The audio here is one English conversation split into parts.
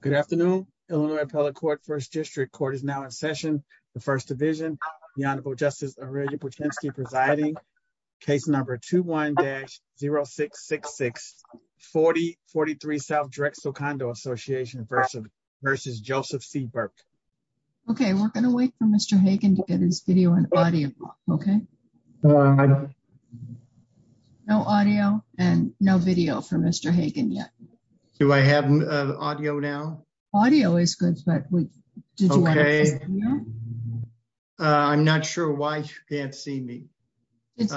Good afternoon, Illinois Appellate Court, 1st District Court is now in session. The First Division, the Honorable Justice Aurelia Potenski presiding, case number 21-0666, 4043 S. Drexel Condo Association v. Joseph C. Burke. Okay, we're going to wait for Mr. Hagen to get his video and audio, okay? No audio and no video for Mr. Hagen yet. Do I have audio now? Audio is good, but did you want to see the video? Okay, I'm not sure why you can't see me. At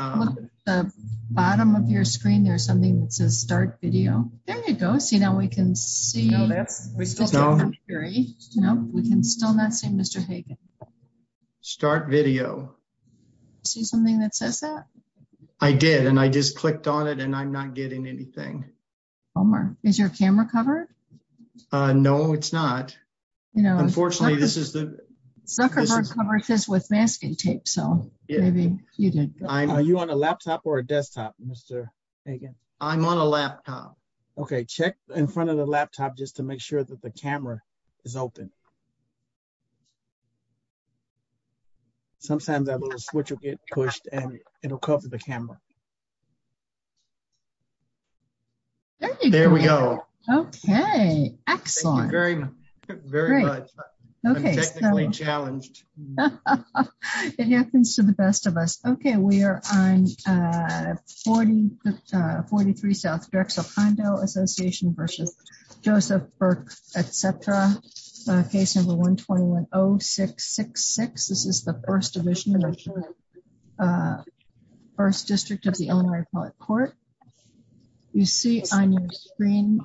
the bottom of your screen there's something that says start video. There you go, see now we can see. We can still not see Mr. Hagen. Start video. See something that says that? I did and I just clicked on it and I'm not getting anything. Homer, is your camera covered? No, it's not. Unfortunately, this is the... Zuckerberg covered this with masking tape, so maybe you did. Are you on a laptop or a desktop, Mr. Hagen? I'm on a laptop. Okay, check in front of the laptop just to make sure that the camera is open. There we go. Okay, excellent. Thank you very much. I'm technically challenged. It happens to the best of us. Okay, we are on 43 South Drexel Condo Association versus Joseph Burke, etc. Case number 1210666. This is the first division, first district of the Illinois Appellate Court. As you see on your screen,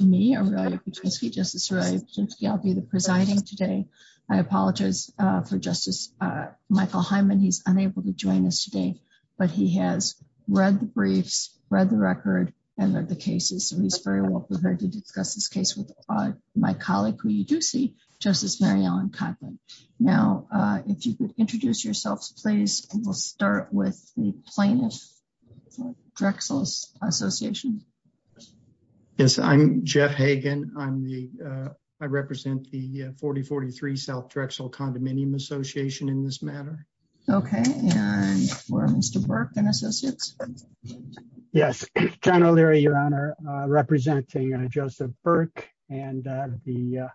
me, Aurelia Piotrowski, Justice Aurelia Piotrowski, I'll be the presiding today. I apologize for Justice Michael Hyman. He's unable to join us today, but he has read the briefs, read the record, and read the cases. So he's very well prepared to discuss this case with my colleague, who you do see, Justice Mary Ellen Kotlin. Now, if you could introduce yourselves, please. We'll start with the plaintiff Drexel Association. Yes, I'm Jeff Hagan. I represent the 4043 South Drexel Condominium Association in this matter. Okay, and we're Mr. Burke and Associates. Yes, General Leary, Your Honor, representing Joseph Burke and the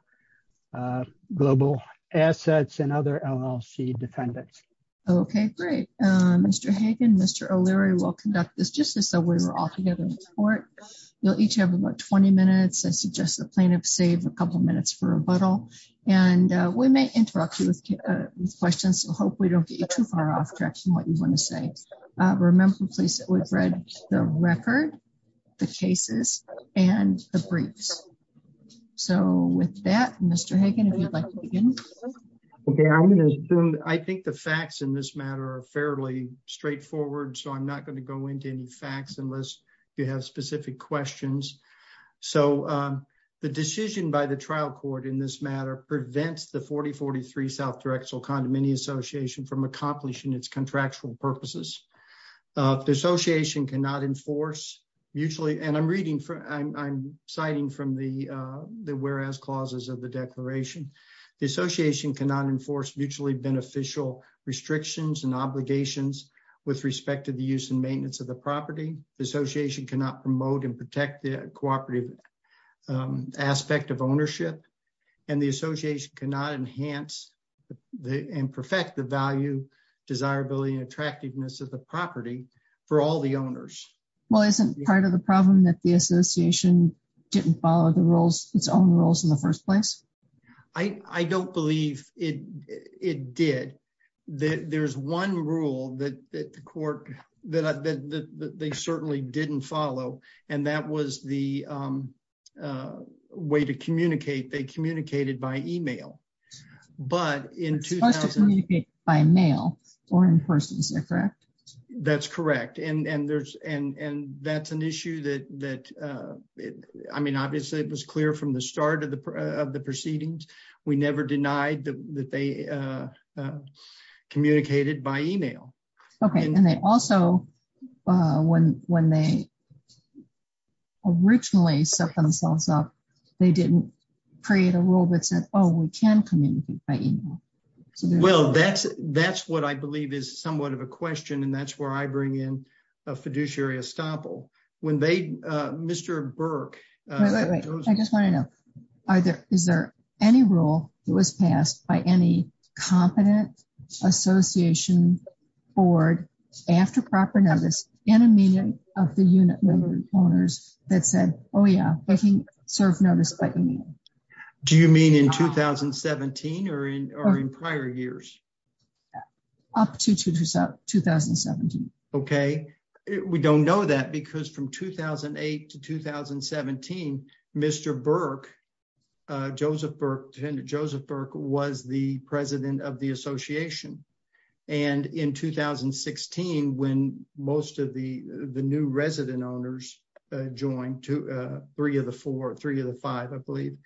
Global Assets and other LLC defendants. Okay, great. Mr. Hagan, Mr. O'Leary will conduct this just as though we were all together in court. You'll each have about 20 minutes. I suggest the plaintiff save a couple minutes for rebuttal, and we may interrupt you with questions. So hope we don't get you too far off track from what you want to say. Remember, please, that we've read the record, the cases, and the briefs. So with that, Mr. Hagan, if you'd like to begin. Okay, I'm going to assume, I think the facts in this matter are fairly straightforward, so I'm not going to go into any facts unless you have specific questions. So the decision by the trial court in this matter prevents the 4043 South Drexel Condominium Association from accomplishing its contractual purposes. The association cannot enforce mutually, and I'm citing from the whereas clauses of the declaration. The association cannot enforce mutually beneficial restrictions and obligations with respect to the use and maintenance of the property. The association cannot promote and protect the cooperative aspect of ownership, and the association cannot enhance and perfect the value, desirability, and attractiveness of the property for all the owners. Well, isn't part of the problem that the association didn't follow its own rules in the first place? I don't believe it did. There's one rule that the court, that they certainly didn't follow, and that was the way to communicate. They communicated by email. But in 2000... Supposed to communicate by mail or in person, is that correct? That's correct, and that's an issue that, I mean, obviously it was clear from the start of the proceedings. We never denied that they communicated by email. Okay, and they also, when they originally set themselves up, they didn't create a rule that said, oh, we can communicate by email. Well, that's what I believe is somewhat of a question, and that's where I bring in a fiduciary estoppel. When they, Mr. Burke... I just want to know, is there any rule that was passed by any competent association board after proper notice in a meeting of the unit member owners that said, oh yeah, they can serve notice by email? Do you mean in 2017 or in prior years? Up to 2017. Okay, we don't know that because from 2008 to 2017, Mr. Burke, Joseph Burke, Defendant Joseph Burke was the president of the association. And in 2016, when most of the new resident owners joined, three of the four, three of the five, I believe,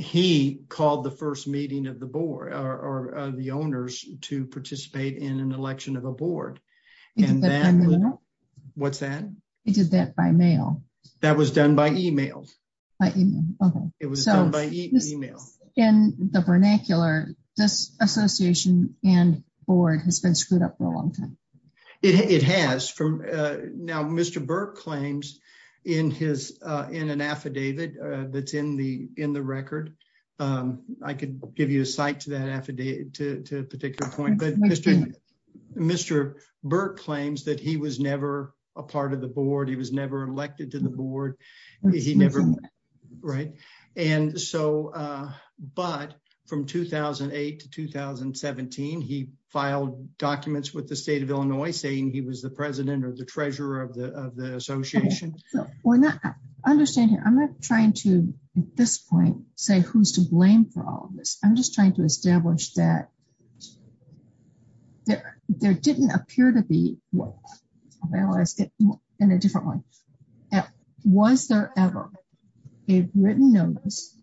he called the first meeting of the board, or the owners to participate in an election of a board. He did that by mail? What's that? He did that by mail. That was done by email. By email, okay. It was done by email. In the vernacular, this association and board has been screwed up for a long time. It has. Now, Mr. Burke claims in an affidavit that's in the record, I could give you a cite to that affidavit to a particular point, but Mr. Burke claims that he was never a part of the board. He was never elected to the board. He never, right? But from 2008 to 2017, he filed documents with the state of Illinois saying he was the president or the treasurer of the association. Understand here, I'm not trying to, at this point, say who's to blame for all of this. I'm just trying to establish that there didn't appear to be, I'm going to ask it in a different way. Was there ever a written notice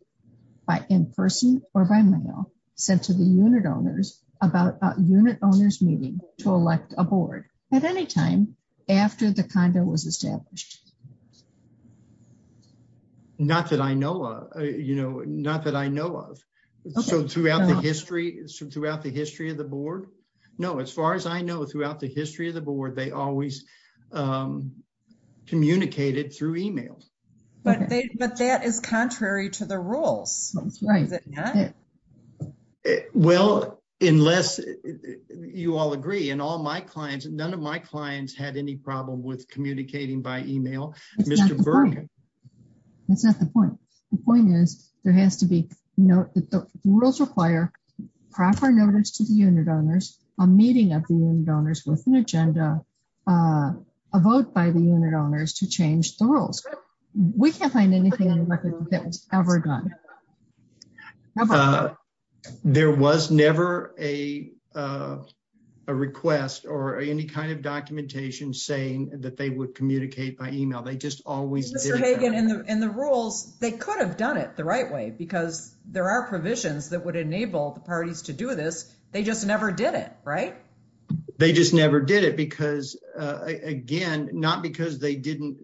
by in-person or by mail sent to the unit owners about a unit owners meeting to elect a board at any time after the condo was established? Not that I know of, you know, not that I know of. So throughout the history of the board? No, as far as I know, throughout the history of the board, they always communicated through email. But that is contrary to the rules. Well, unless you all agree and all my clients, none of my clients had any problem with communicating by email. That's not the point. The point is there has to be, note that the rules require proper notice to the unit owners, a meeting of the unit owners with an agenda, a vote by the unit owners to change the rules. We can't find anything on the record that was ever done. There was never a request or any kind of documentation saying that they would communicate by email. Mr. Hagan, in the rules, they could have done it the right way because there are provisions that would enable the parties to do this. They just never did it, right? They just never did it because, again, not because they didn't,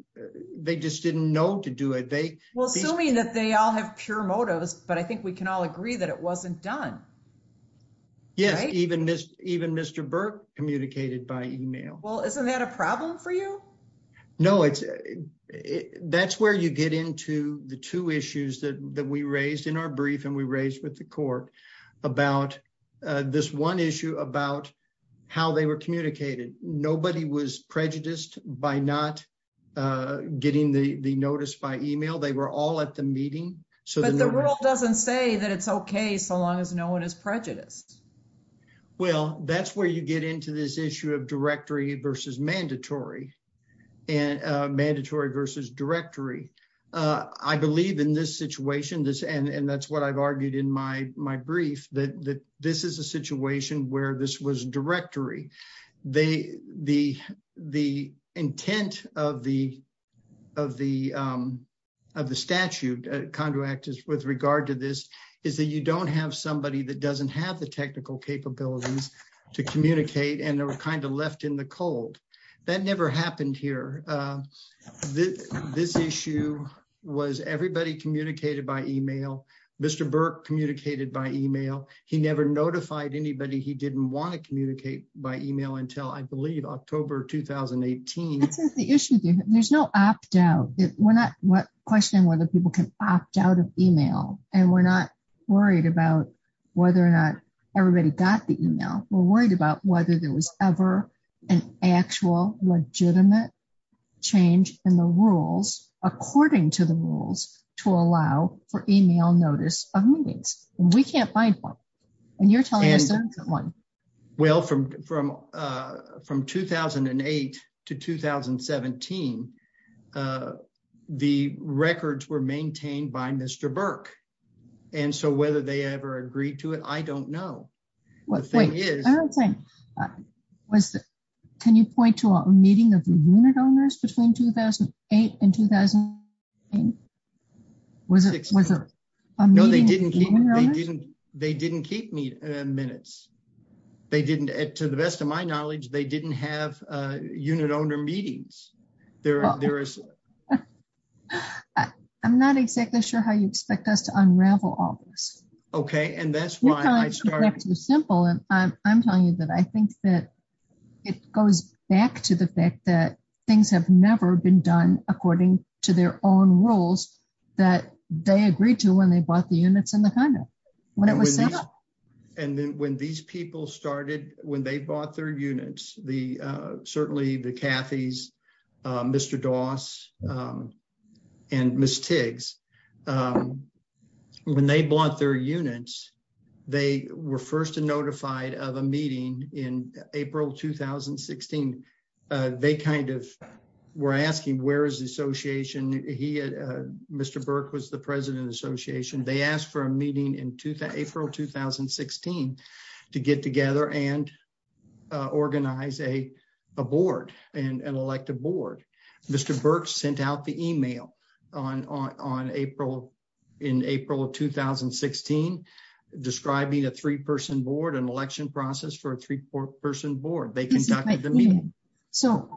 they just didn't know to do it. Well, assuming that they all have pure motives, but I think we can all agree that it wasn't done. Yes, even Mr. Burke communicated by email. Well, isn't that a problem for you? No, that's where you get into the two issues that we raised in our brief and we raised with the court about this one issue about how they were communicated. Nobody was prejudiced by not getting the notice by email. They were all at the meeting. But the rule doesn't say that it's okay so long as no one is prejudiced. Well, that's where you get into this issue of directory versus mandatory. And mandatory versus directory. I believe in this situation, and that's what I've argued in my brief, that this is a situation where this was directory. The intent of the statute, Conduit Act, with regard to this is that you don't have somebody that doesn't have the technical capabilities to communicate and they were kind of left in the cold. That never happened here. This issue was everybody communicated by email. Mr. Burke communicated by email. He never notified anybody he didn't want to communicate by email until I believe October 2018. That's not the issue. There's no opt out. We're not questioning whether people can opt out of email. And we're not worried about whether or not everybody got the email. We're worried about whether there was ever an actual legitimate change in the rules according to the rules to allow for email notice of meetings. We can't find one. Well, from 2008 to 2017, the records were maintained by Mr. Burke. And so whether they ever agreed to it, I don't know. The thing is... Can you point to a meeting of the unit owners between 2008 and 2018? Was it a meeting of the unit owners? They didn't keep minutes. To the best of my knowledge, they didn't have unit owner meetings. I'm not exactly sure how you expect us to unravel all this. Okay. I'm telling you that I think that it goes back to the fact that things have never been done according to their own rules that they agreed to when they bought the units in the condo. And then when these people started, when they bought their units, certainly the Cathy's, Mr. Doss, and Ms. Tiggs, when they bought their units, they were first notified of a meeting in April 2016. They kind of were asking, where is the association? Mr. Burke was the president of the association. They asked for a meeting in April 2016 to get together and organize a board, an elective board. Mr. Burke sent out the email in April 2016 describing a three-person board, an election process for a three-person board. They conducted the meeting. So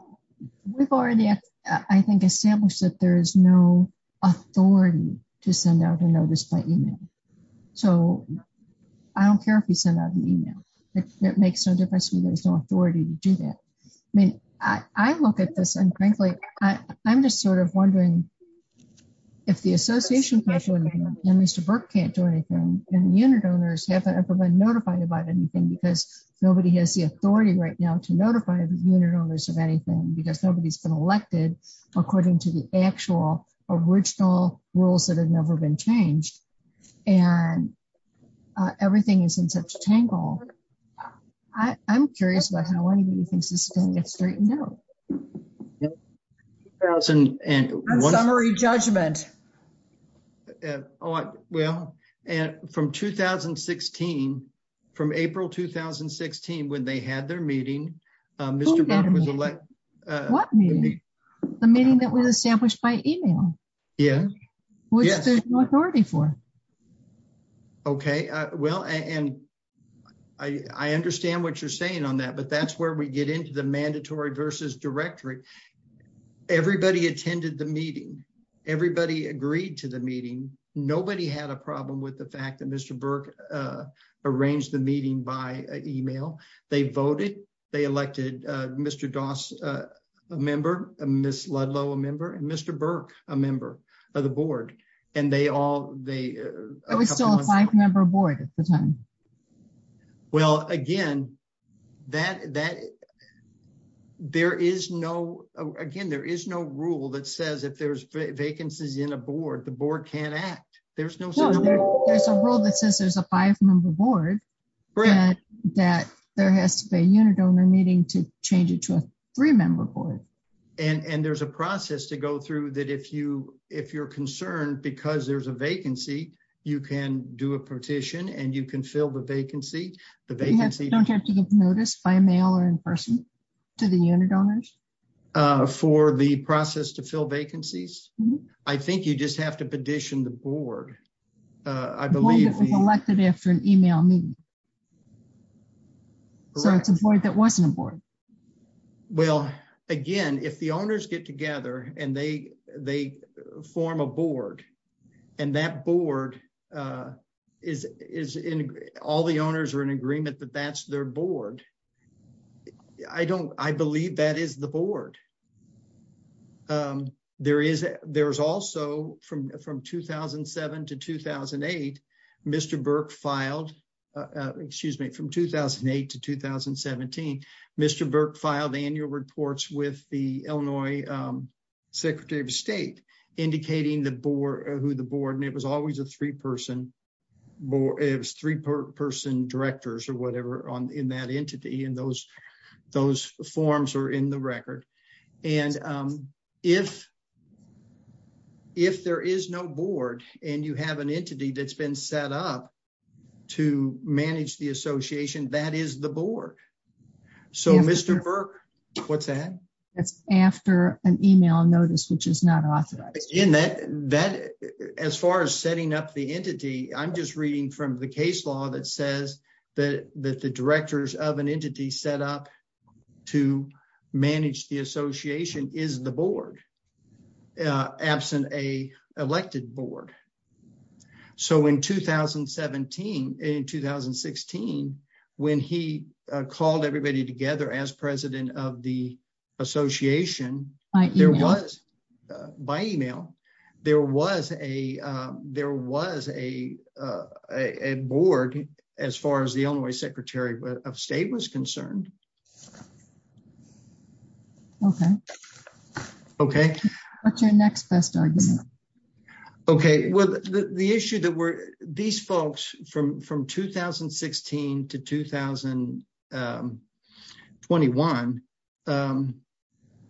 we've already, I think, established that there is no authority to send out a notice by email. So I don't care if you send out the email. It makes no difference to me. There's no authority to do that. I look at this, and frankly, I'm just sort of wondering if the association can't do anything, and Mr. Burke can't do anything, and the unit owners haven't ever been notified about anything because nobody has the authority right now to notify the unit owners of anything because nobody's been elected according to the actual original rules that have never been changed. And everything is in such tangle. I'm curious about how any of you think this is going to get straightened out. Summary judgment. All right. Well, and from 2016, from April 2016, when they had their meeting, Mr. Burke was elected. What meeting? The meeting that was established by email. Yeah. Which there's no authority for. Okay. Well, and I understand what you're saying on that, but that's where we get into the mandatory versus directory. Everybody attended the meeting. Everybody agreed to the meeting. Nobody had a problem with the fact that Mr. Burke arranged the meeting by email. They voted. They elected Mr. Doss, a member, Ms. Ludlow, a member, and Mr. Burke, a member of the board, and they all. It was still a five-member board at the time. Well, again, there is no rule that says if there's vacancies in a board, the board can't act. There's a rule that says there's a five-member board that there has to be a unit owner meeting to change it to a three-member board. And there's a process to go through that if you're concerned because there's a vacancy, you can do a petition and you can fill the vacancy. The vacancy. Don't you have to give notice by mail or in person to the unit owners? For the process to fill vacancies? I think you just have to petition the board. I believe. The board that was elected after an email meeting. So it's a board that wasn't a board. Well, again, if the owners get together and they form a board, and that board is in, all the owners are in agreement that that's their board. I don't, I believe that is the board. There is, there's also from 2007 to 2008, Mr. Burke filed, excuse me, from 2008 to 2017, Mr. Burke filed annual reports with the Illinois Secretary of State indicating the board, who the board, and it was always a three-person, it was three-person directors or whatever on in that entity. And those, those forms are in the record. And if, if there is no board and you have an entity that's been set up to manage the association, that is the board. So Mr. Burke, what's that? It's after an email notice, which is not authorized. In that, that, as far as setting up the entity, I'm just reading from the case law that says that the directors of an entity set up to manage the association is the board, absent a elected board. So in 2017, in 2016, when he called everybody together as president of the association, there was, by email, there was a, there was a, a board, as far as the Illinois Secretary of State was concerned. Okay. Okay. What's your next best argument? Okay, well, the issue that we're, these folks from, from 2016 to 2021,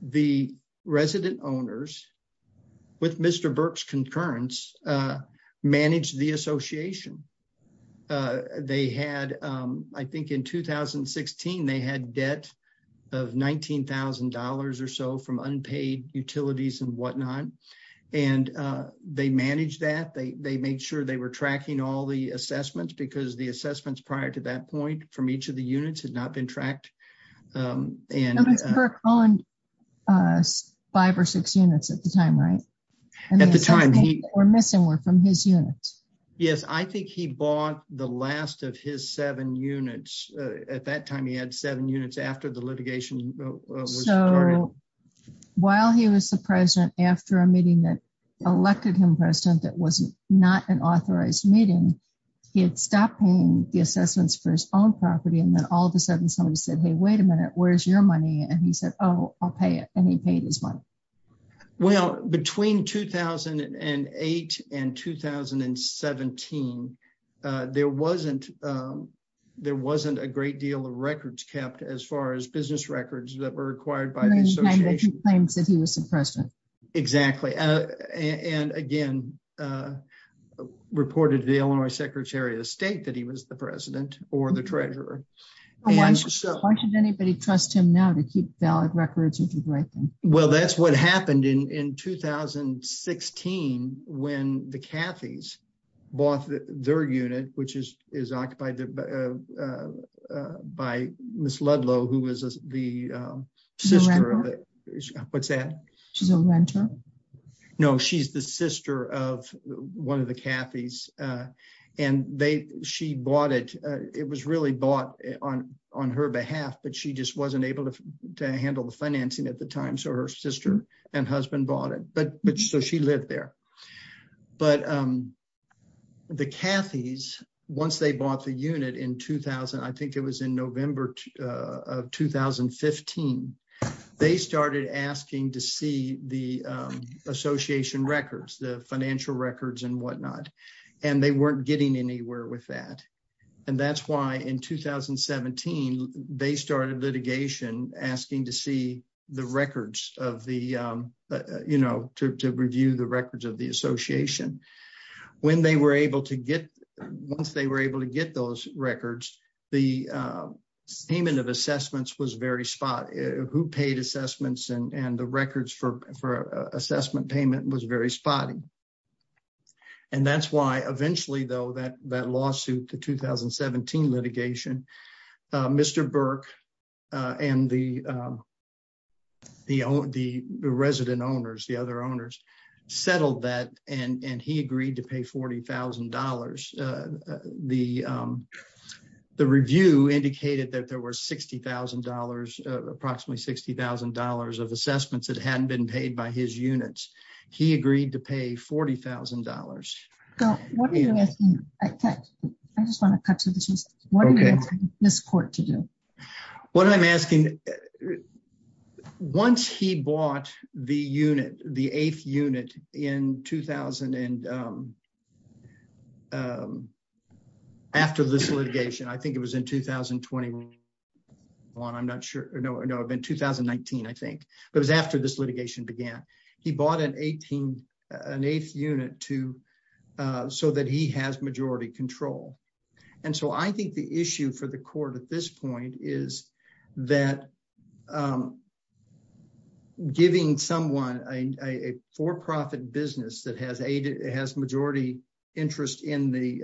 the resident owners with Mr. Burke's concurrence, managed the association. They had, I think in 2016, they had debt of $19,000 or so from unpaid utilities and whatnot. And they managed that. They, they made sure they were tracking all the assessments, because the assessments prior to that point from each of the units had not been tracked. And Mr. Burke owned five or six units at the time, right? At the time. And the assessments that were missing were from his units. Yes, I think he bought the last of his seven units. At that time, he had seven units after the litigation was started. While he was the president, after a meeting that elected him president, that was not an authorized meeting, he had stopped paying the assessments for his own property. And then all of a sudden, somebody said, hey, wait a minute, where's your money? And he said, oh, I'll pay it. And he paid his money. Well, between 2008 and 2017, there wasn't, there wasn't a great deal of records kept, as far as business records that were acquired by the association. He claimed that he was the president. Exactly. And again, reported to the Illinois Secretary of State that he was the president or the treasurer. Why should anybody trust him now to keep valid records and to write them? Well, that's what happened in 2016, when the Cathy's bought their unit, which is, is occupied by Miss Ludlow, who was the sister of it. What's that? She's a renter. No, she's the sister of one of the Cathy's. And they, she bought it. It was really bought on her behalf, but she just wasn't able to handle the financing at the time. So her sister and husband bought it. But, but so she lived there. But the Cathy's, once they bought the unit in 2000, I think it was in November of 2015, they started asking to see the association records, the financial records and whatnot. And they weren't getting anywhere with that. And that's why in 2017, they started litigation asking to see the records of the, you know, to review the records of the association. When they were able to get, once they were able to get those records, the payment of assessments was very spot, who paid assessments and the records for assessment payment was very spotty. And that's why eventually though, that, that lawsuit, the 2017 litigation, Mr. Burke and the, the, the resident owners, the other owners settled that. And he agreed to pay $40,000. The, the review indicated that there were $60,000, approximately $60,000 of assessments that hadn't been paid by his units. He agreed to pay $40,000. So what are you asking? I just want to cut to the chase. What do you want this court to do? What I'm asking, once he bought the unit, the eighth unit in 2000 and after this litigation, I think it was in 2021, I'm not sure. No, no, I've been 2019. I think it was after this litigation began. He bought an 18, an eighth unit to, so that he has majority control. And so I think the issue for the court at this point is that giving someone a, a, a for-profit business that has aid, it has majority interest in the,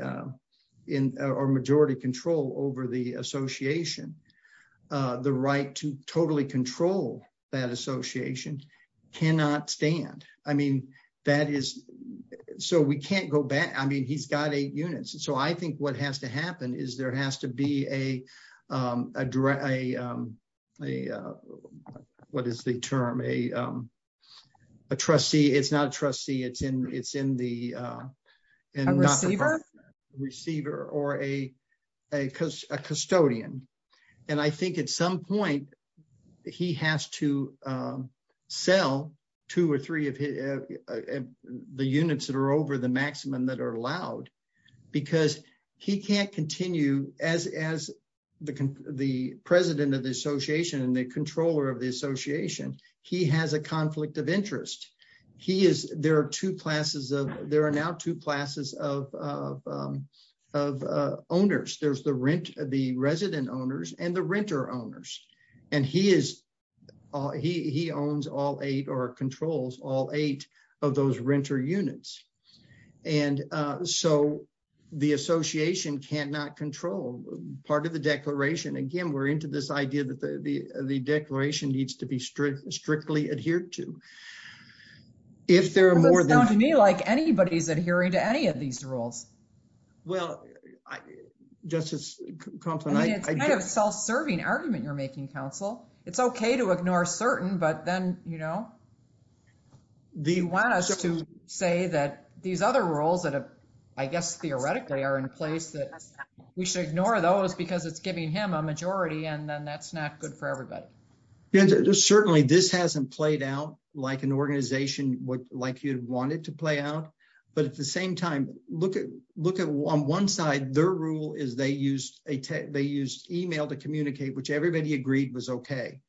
in our majority control over the association, the right to totally control that association cannot stand. I mean, that is, so we can't go back. I mean, he's got eight units. And so I think what has to happen is there has to be a, what is the term? A trustee. It's not a trustee. It's in, it's in the receiver or a custodian. And I think at some point he has to sell two or three of the units that are over the maximum that are allowed because he can't continue as, as the, the president of the association and the controller of the association. He has a conflict of interest. He is, there are two classes of, there are now two classes of, of, of owners. There's the rent, the resident owners and the renter owners. And he is, he, he owns all eight or controls all eight of those renter units. And so the association can not control part of the declaration. Again, we're into this idea that the, the, the declaration needs to be strict, strictly adhered to. If there are more than. Sounds to me like anybody's adhering to any of these rules. Well, Justice Compton. I mean, it's kind of self-serving argument you're making counsel. It's okay to ignore certain, but then, you know. Do you want us to say that these other roles that have, I guess, theoretically are in place that we should ignore those because it's giving him a majority and then that's not good for everybody. Certainly this hasn't played out like an organization would like you'd want it to play out. But at the same time, look at, look at on one side, their rule is they used a tech, they used email to communicate, which everybody agreed was okay.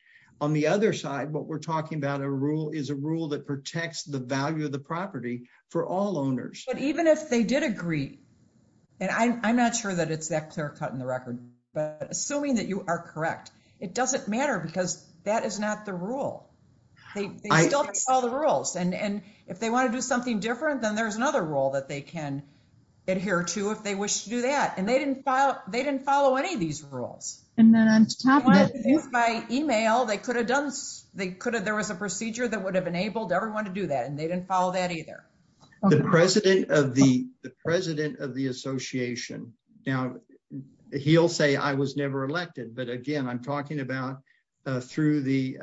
On the other side, what we're talking about a rule is a rule that protects the value of the property for all owners. But even if they did agree. And I'm not sure that it's that clear cut in the record, but assuming that you are correct, it doesn't matter because that is not the rule. They still follow the rules and if they want to do something different, then there's another role that they can adhere to if they wish to do that. And they didn't file. They didn't follow any of these rules. And then by email, they could have done, they could have, there was a procedure that would have enabled everyone to do that and they didn't follow that either. The president of the, the president of the association. Now, he'll say I was never elected, but again, I'm talking about through the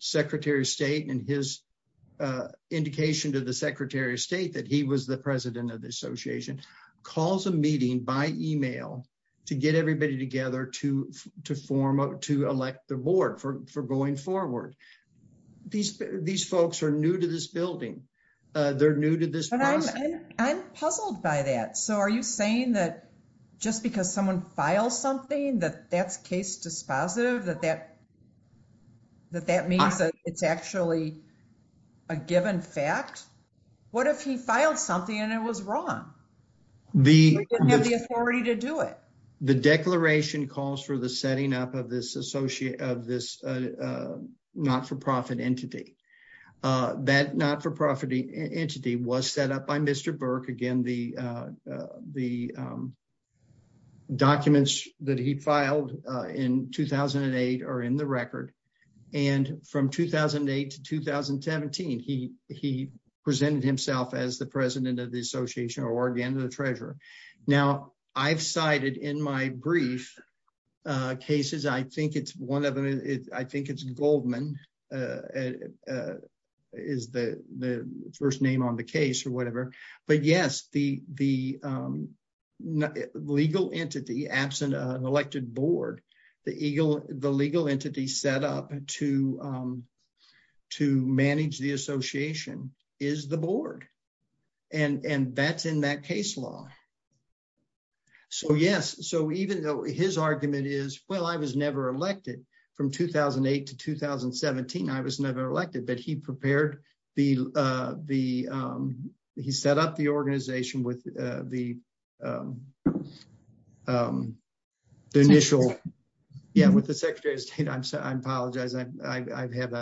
secretary of state and his indication to the secretary of state that he was the president of the to form to elect the board for, for going forward. These, these folks are new to this building. They're new to this. But I'm puzzled by that. So are you saying that just because someone files something that that's case dispositive that, that, that, that means that it's actually. A given fact, what if he filed something and it was wrong? The authority to do it. The declaration calls for the setting up of this associate of this not-for-profit entity. That not-for-profit entity was set up by Mr. Burke. Again, the, the documents that he filed in 2008 are in the record. And from 2008 to 2017, he, he presented himself as the president of the association or again, the treasurer. Now I've cited in my brief cases. I think it's one of them. I think it's Goldman is the, the first name on the case or whatever, but yes, the, the legal entity absent an elected board, the Eagle, the legal entity set up to, to manage the association is the board. And, and that's in that case law. So, yes. So even though his argument is, well, I was never elected from 2008 to 2017, I was never elected, but he prepared the, the he set up the organization with the, the initial, yeah, with the secretary of state. I'm sorry. I apologize. I've had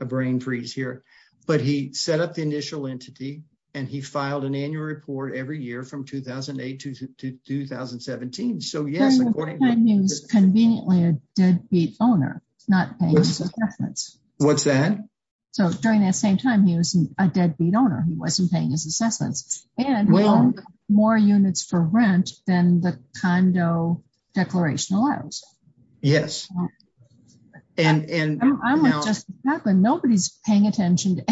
a brain freeze here, but he set up the initial entity and he filed an annual report every year from 2008 to 2017. So yes, conveniently a deadbeat owner, not paying his assessments. What's that? So during that same time, he was a deadbeat owner. He wasn't paying his assessments and more units for rent than the condo declaration allows. Yes. And, and I'm just, nobody's paying attention to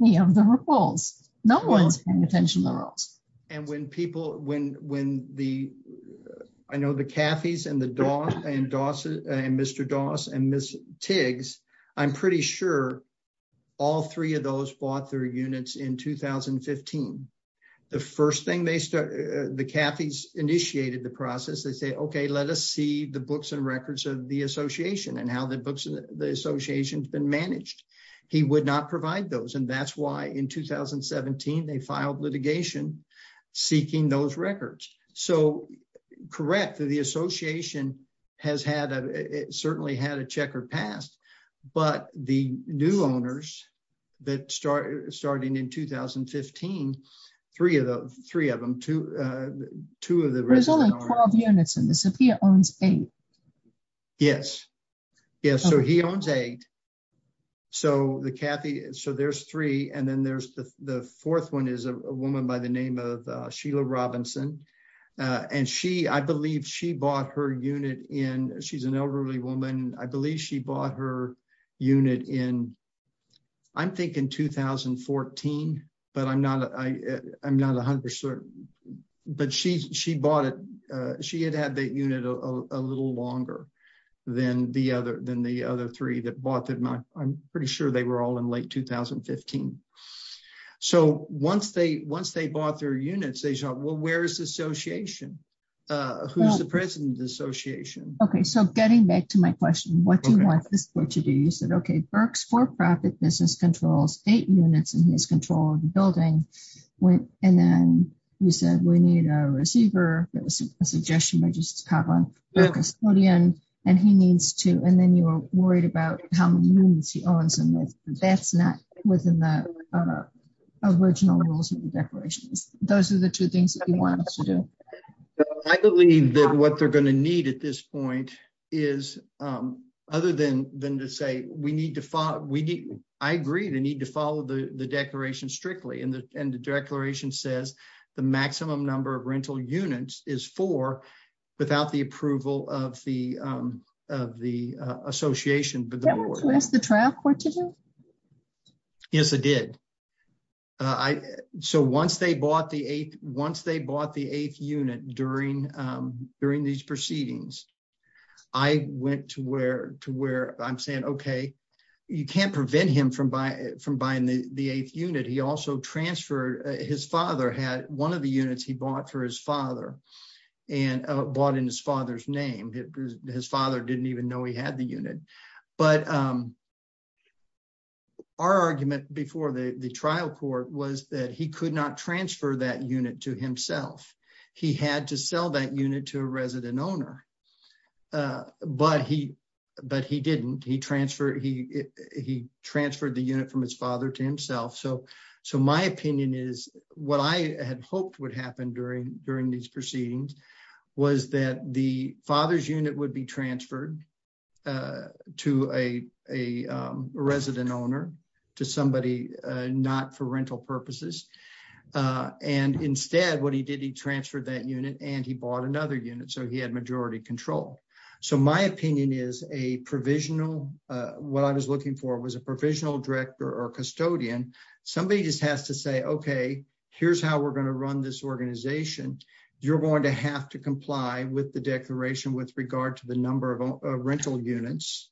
any of the rules. No one's paying attention to the rules. And when people, when, when the, I know the Cathy's and the dog and Dawson and Mr. Dawson and Ms. Tiggs, I'm pretty sure all three of those bought their units in 2015. The first thing they start, the Cathy's initiated the process. They say, okay, let us see the books and records of the association and how the books and the association has been managed. He would not provide those. And that's why in 2017, they filed litigation seeking those records. So correct. The association has had a, certainly had a checker passed, but the new owners that start starting in 2015, three of those, three of them, two, two of the. There's only 12 units in the Sophia owns eight. Yes. Yeah. So he owns eight. So the Cathy, so there's three. And then there's the fourth one is a woman by the name of Sheila Robinson. And she, I believe she bought her unit in, she's an elderly woman. I believe she bought her unit in, I'm thinking 2014, but I'm not, I, I'm not a hundred certain, but she, she bought it. She had had the unit a little longer than the other, than the other three that bought that. I'm pretty sure they were all in late 2015. So once they, once they bought their units, they shot, well, where's the association? Who's the president of the association? Okay. So getting back to my question, what do you want this, what you do? You said, okay, Burke's for-profit business controls eight units in his control of the and then you said, we need a receiver. It was a suggestion by just to have a custodian and he needs to, and then you were worried about how many units he owns. And that's not within the original rules of the declarations. Those are the two things that you want us to do. I believe that what they're going to need at this point is other than, than to say, we need to follow, we need, I agree. They need to follow the declaration strictly. And the, and the declaration says the maximum number of rental units is four without the approval of the, of the association, but the trial court. Yes, it did. So once they bought the eighth, once they bought the eighth unit during, during these proceedings, I went to where, to where I'm saying, okay, you can't prevent him from from buying the eighth unit. He also transferred, his father had one of the units he bought for his father and bought in his father's name. His father didn't even know he had the unit, but our argument before the trial court was that he could not transfer that unit to himself. He had to sell that unit to a resident owner. But he, but he didn't. He transferred, he, he transferred the unit from his father to himself. So, so my opinion is what I had hoped would happen during, during these proceedings was that the father's unit would be transferred to a, a resident owner, to somebody not for rental purposes. And instead what he did, he transferred that unit and he bought another unit. So he had majority control. So my opinion is a provisional, what I was looking for was a provisional director or custodian. Somebody just has to say, okay, here's how we're going to run this organization. You're going to have to comply with the declaration with regard to the number of rental units.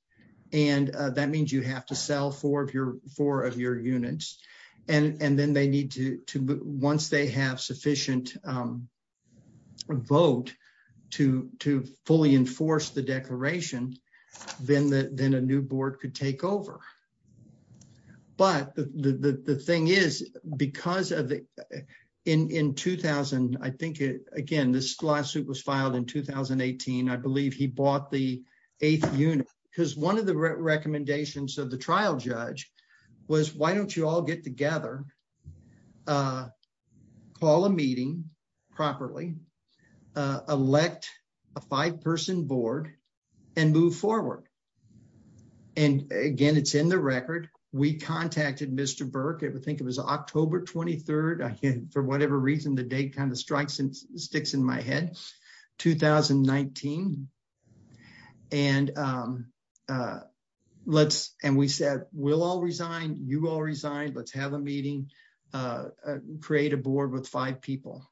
And that means you have to sell four of your, four of your units. And, and then they need to, to, once they have sufficient vote to, to fully enforce the declaration, then the, then a new board could take over. But the, the, the thing is, because of the, in, in 2000, I think, again, this lawsuit was filed in 2018. I believe he bought the eighth unit because one of the recommendations of the trial judge was, why don't you all get together, call a meeting properly, elect a five-person board and move forward. And again, it's in the record. We contacted Mr. Burke, I think it was October 23rd. I can, for whatever reason, the date kind of strikes and sticks in my head, 2019. And let's, and we said, we'll all resign. You all resign. Let's have a meeting, create a board with five people.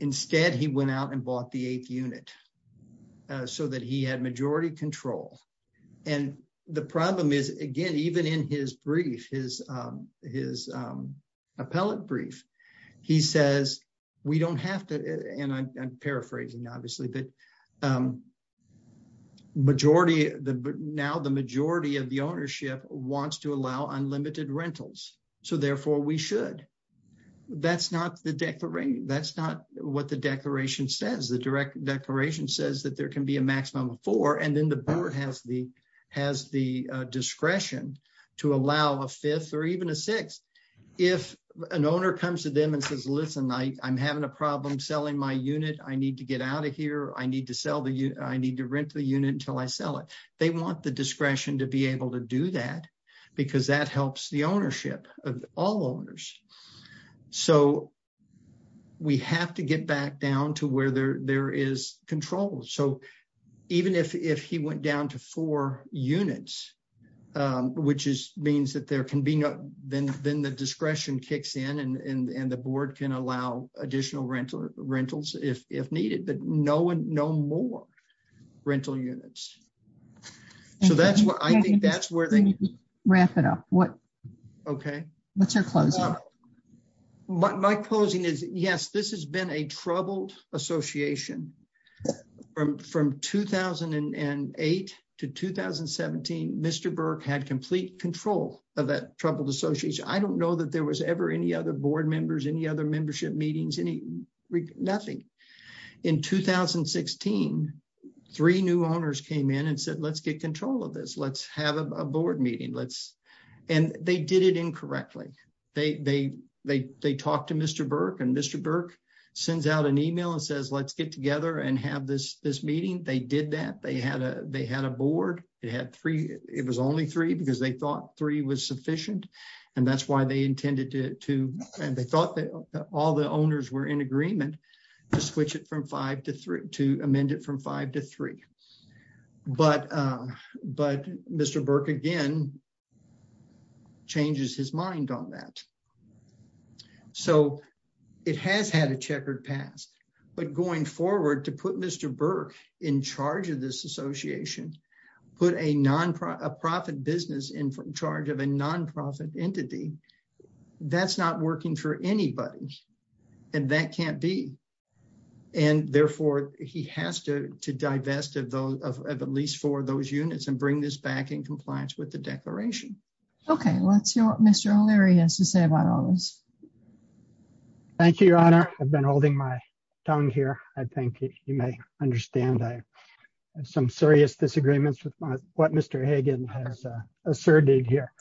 Instead, he went out and bought the eighth unit so that he had majority control. And the problem is, again, even in his brief, his, his appellate brief, he says, we don't have to, and I'm paraphrasing obviously, but majority, now the majority of the ownership wants to allow unlimited rentals. So therefore we should. That's not the declaration, that's not what the declaration says. The direct declaration says that there can be a maximum of four and then the board has the, has the discretion to allow a fifth or even a sixth. If an owner comes to them and says, listen, I, I'm having a problem selling my unit. I need to get out of here. I need to sell the unit. I need to rent the unit until I sell it. They want the discretion to be able to do that because that helps the ownership of all owners. So we have to get back down to where there, there is control. So even if, if he went down to four units, which is, means that there can be no, then, then the discretion kicks in and, and, and the board can allow additional rental rentals if, if needed, but no one, no more rental units. So that's what I think that's where they wrap it up. What, okay. What's your closing? My closing is yes, this has been a troubled association. From 2008 to 2017, Mr. Burke had complete control of that troubled association. I don't know that there was ever any other board members, any other membership meetings, any, nothing. In 2016, three new owners came in and said, let's get control of this. Let's have a board meeting. Let's, and they did it incorrectly. They, they, they, they talked to Mr. Burke and Mr. Burke sends out an email and says, let's get together and have this, this meeting. They did that. They had a, they had a board. It had three, it was only three because they thought three was sufficient and that's why they intended to, to, and they thought that all the owners were in agreement to switch it from five to three, to amend it from five to three. But, but Mr. Burke again, changes his mind on that. So it has had a checkered past, but going forward to put Mr. Burke in charge of this association, put a nonprofit, a profit business in charge of a nonprofit entity, that's not working for anybody. And that can't be. And therefore he has to, to divest of those, of at least four of those units and bring this back in compliance with the declaration. Okay. Let's hear what Mr. O'Leary has to say about all this. Thank you, Your Honor. I've been holding my tongue here. I think you may understand. I have some serious disagreements with my, what Mr. Hagan has asserted here.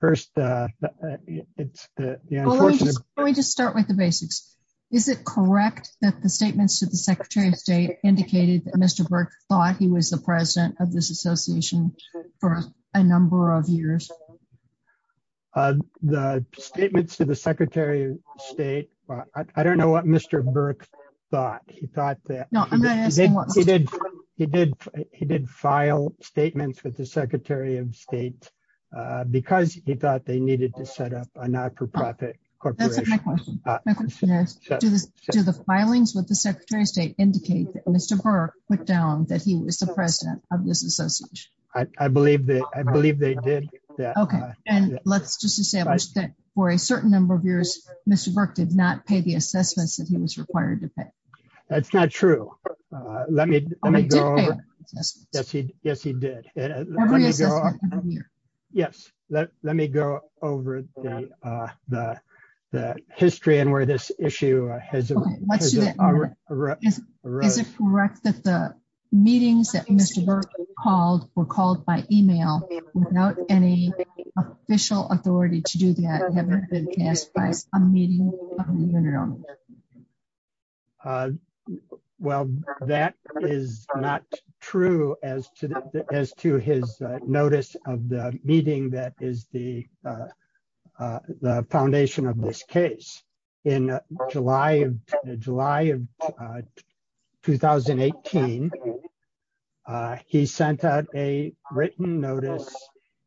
First, it's the unfortunate. Let me just start with the basics. Is it correct that the statements to the secretary of state indicated that Mr. Burke thought he was the president of this association for a number of years? Uh, the statements to the secretary of state, I don't know what Mr. Burke thought. He thought that he did, he did, he did file statements with the secretary of state, uh, because he thought they needed to set up a not-for-profit corporation. That's my question. Do the filings with the secretary of state indicate that Mr. Burke put down that he was the president of this association? I, I believe that, I believe they did that. Okay. And let's just establish that for a certain number of years, Mr. Burke did not pay the assessments that he was required to pay. That's not true. Let me, let me go over. Yes, he, yes, he did. Yes. Let, let me go over the, uh, the, the history and where this issue has led. Is it correct that the meetings that Mr. Burke called were called by email without any official authority to do that? Well, that is not true as to, as to his notice of the meeting that is the, uh, uh, July of July of, uh, 2018, uh, he sent out a written notice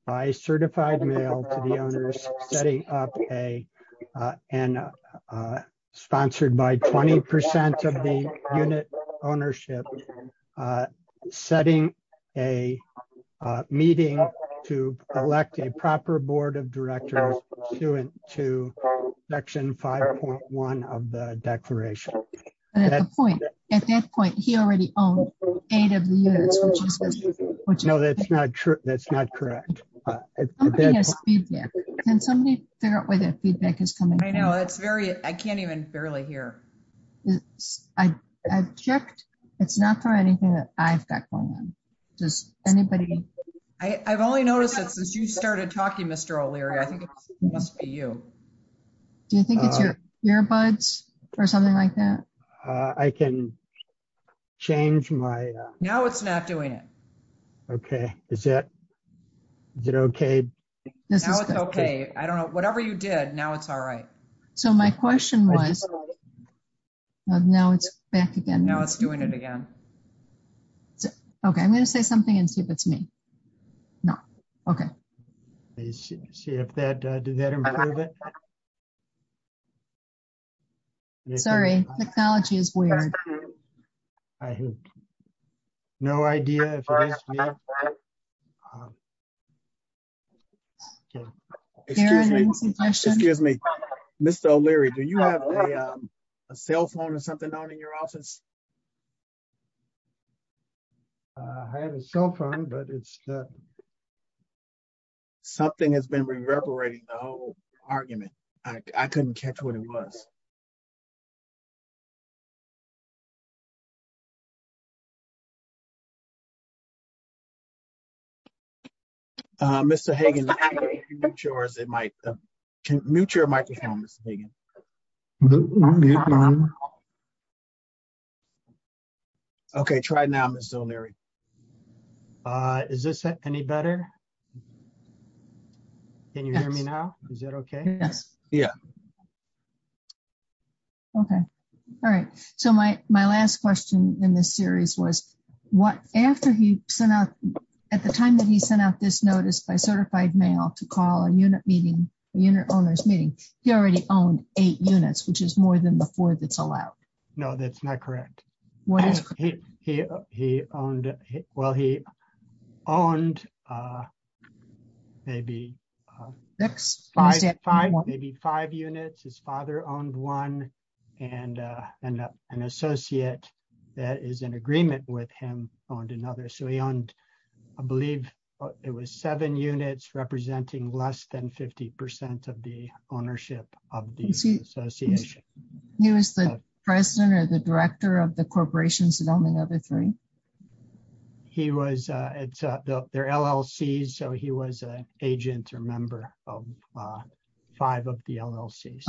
by certified mail to the owners, setting up a, uh, and, uh, uh, sponsored by 20% of the unit ownership, uh, setting a, uh, meeting to elect a proper board of directors to it, to section 5.1 of the declaration. At that point, he already owned eight of the units, which is not true. That's not correct. Can somebody figure out whether feedback is coming? I know it's very, I can't even barely hear. I checked. It's not for anything that I've got going on. Does anybody. I've only noticed that since you started talking, Mr. O'Leary, I think it must be you. Do you think it's your earbuds or something like that? I can change my, uh, now it's not doing it. Okay. Is that, is it okay? This is okay. I don't know whatever you did now. It's all right. So my question was, now it's back again. Now it's doing it again. Okay. I'm going to say something and see if it's me. No. Okay. See if that, uh, did that improve it? Sorry. Technology is weird. No idea. Excuse me, Mr. O'Leary, do you have a cell phone or something on in your office? Uh, I have a cell phone, but it's, uh, something has been reverberating the whole argument. I couldn't catch what it was. Uh, Mr. Hagan, mute your microphone, Mr. Hagan. Okay. Try it now, Mr. O'Leary. Uh, is this any better? Can you hear me now? Is that okay? Yes. Yeah. Okay. All right. So my, my last question in this series was what, after he sent out at the time that he sent out this notice by certified mail to call a unit meeting, a unit owner's meeting, he already owned it. Eight units, which is more than the four that's allowed. No, that's not correct. What is he? He, he owned it. Well, he owned, uh, maybe, uh, maybe five units. His father owned one and, uh, and, uh, an associate that is in agreement with him owned another. So he owned, I believe it was seven units representing less than 50% of the ownership of the association. He was the president or the director of the corporations and all the other three. He was, uh, it's, uh, the, their LLC. So he was an agent or member of, uh, five of the LLCs.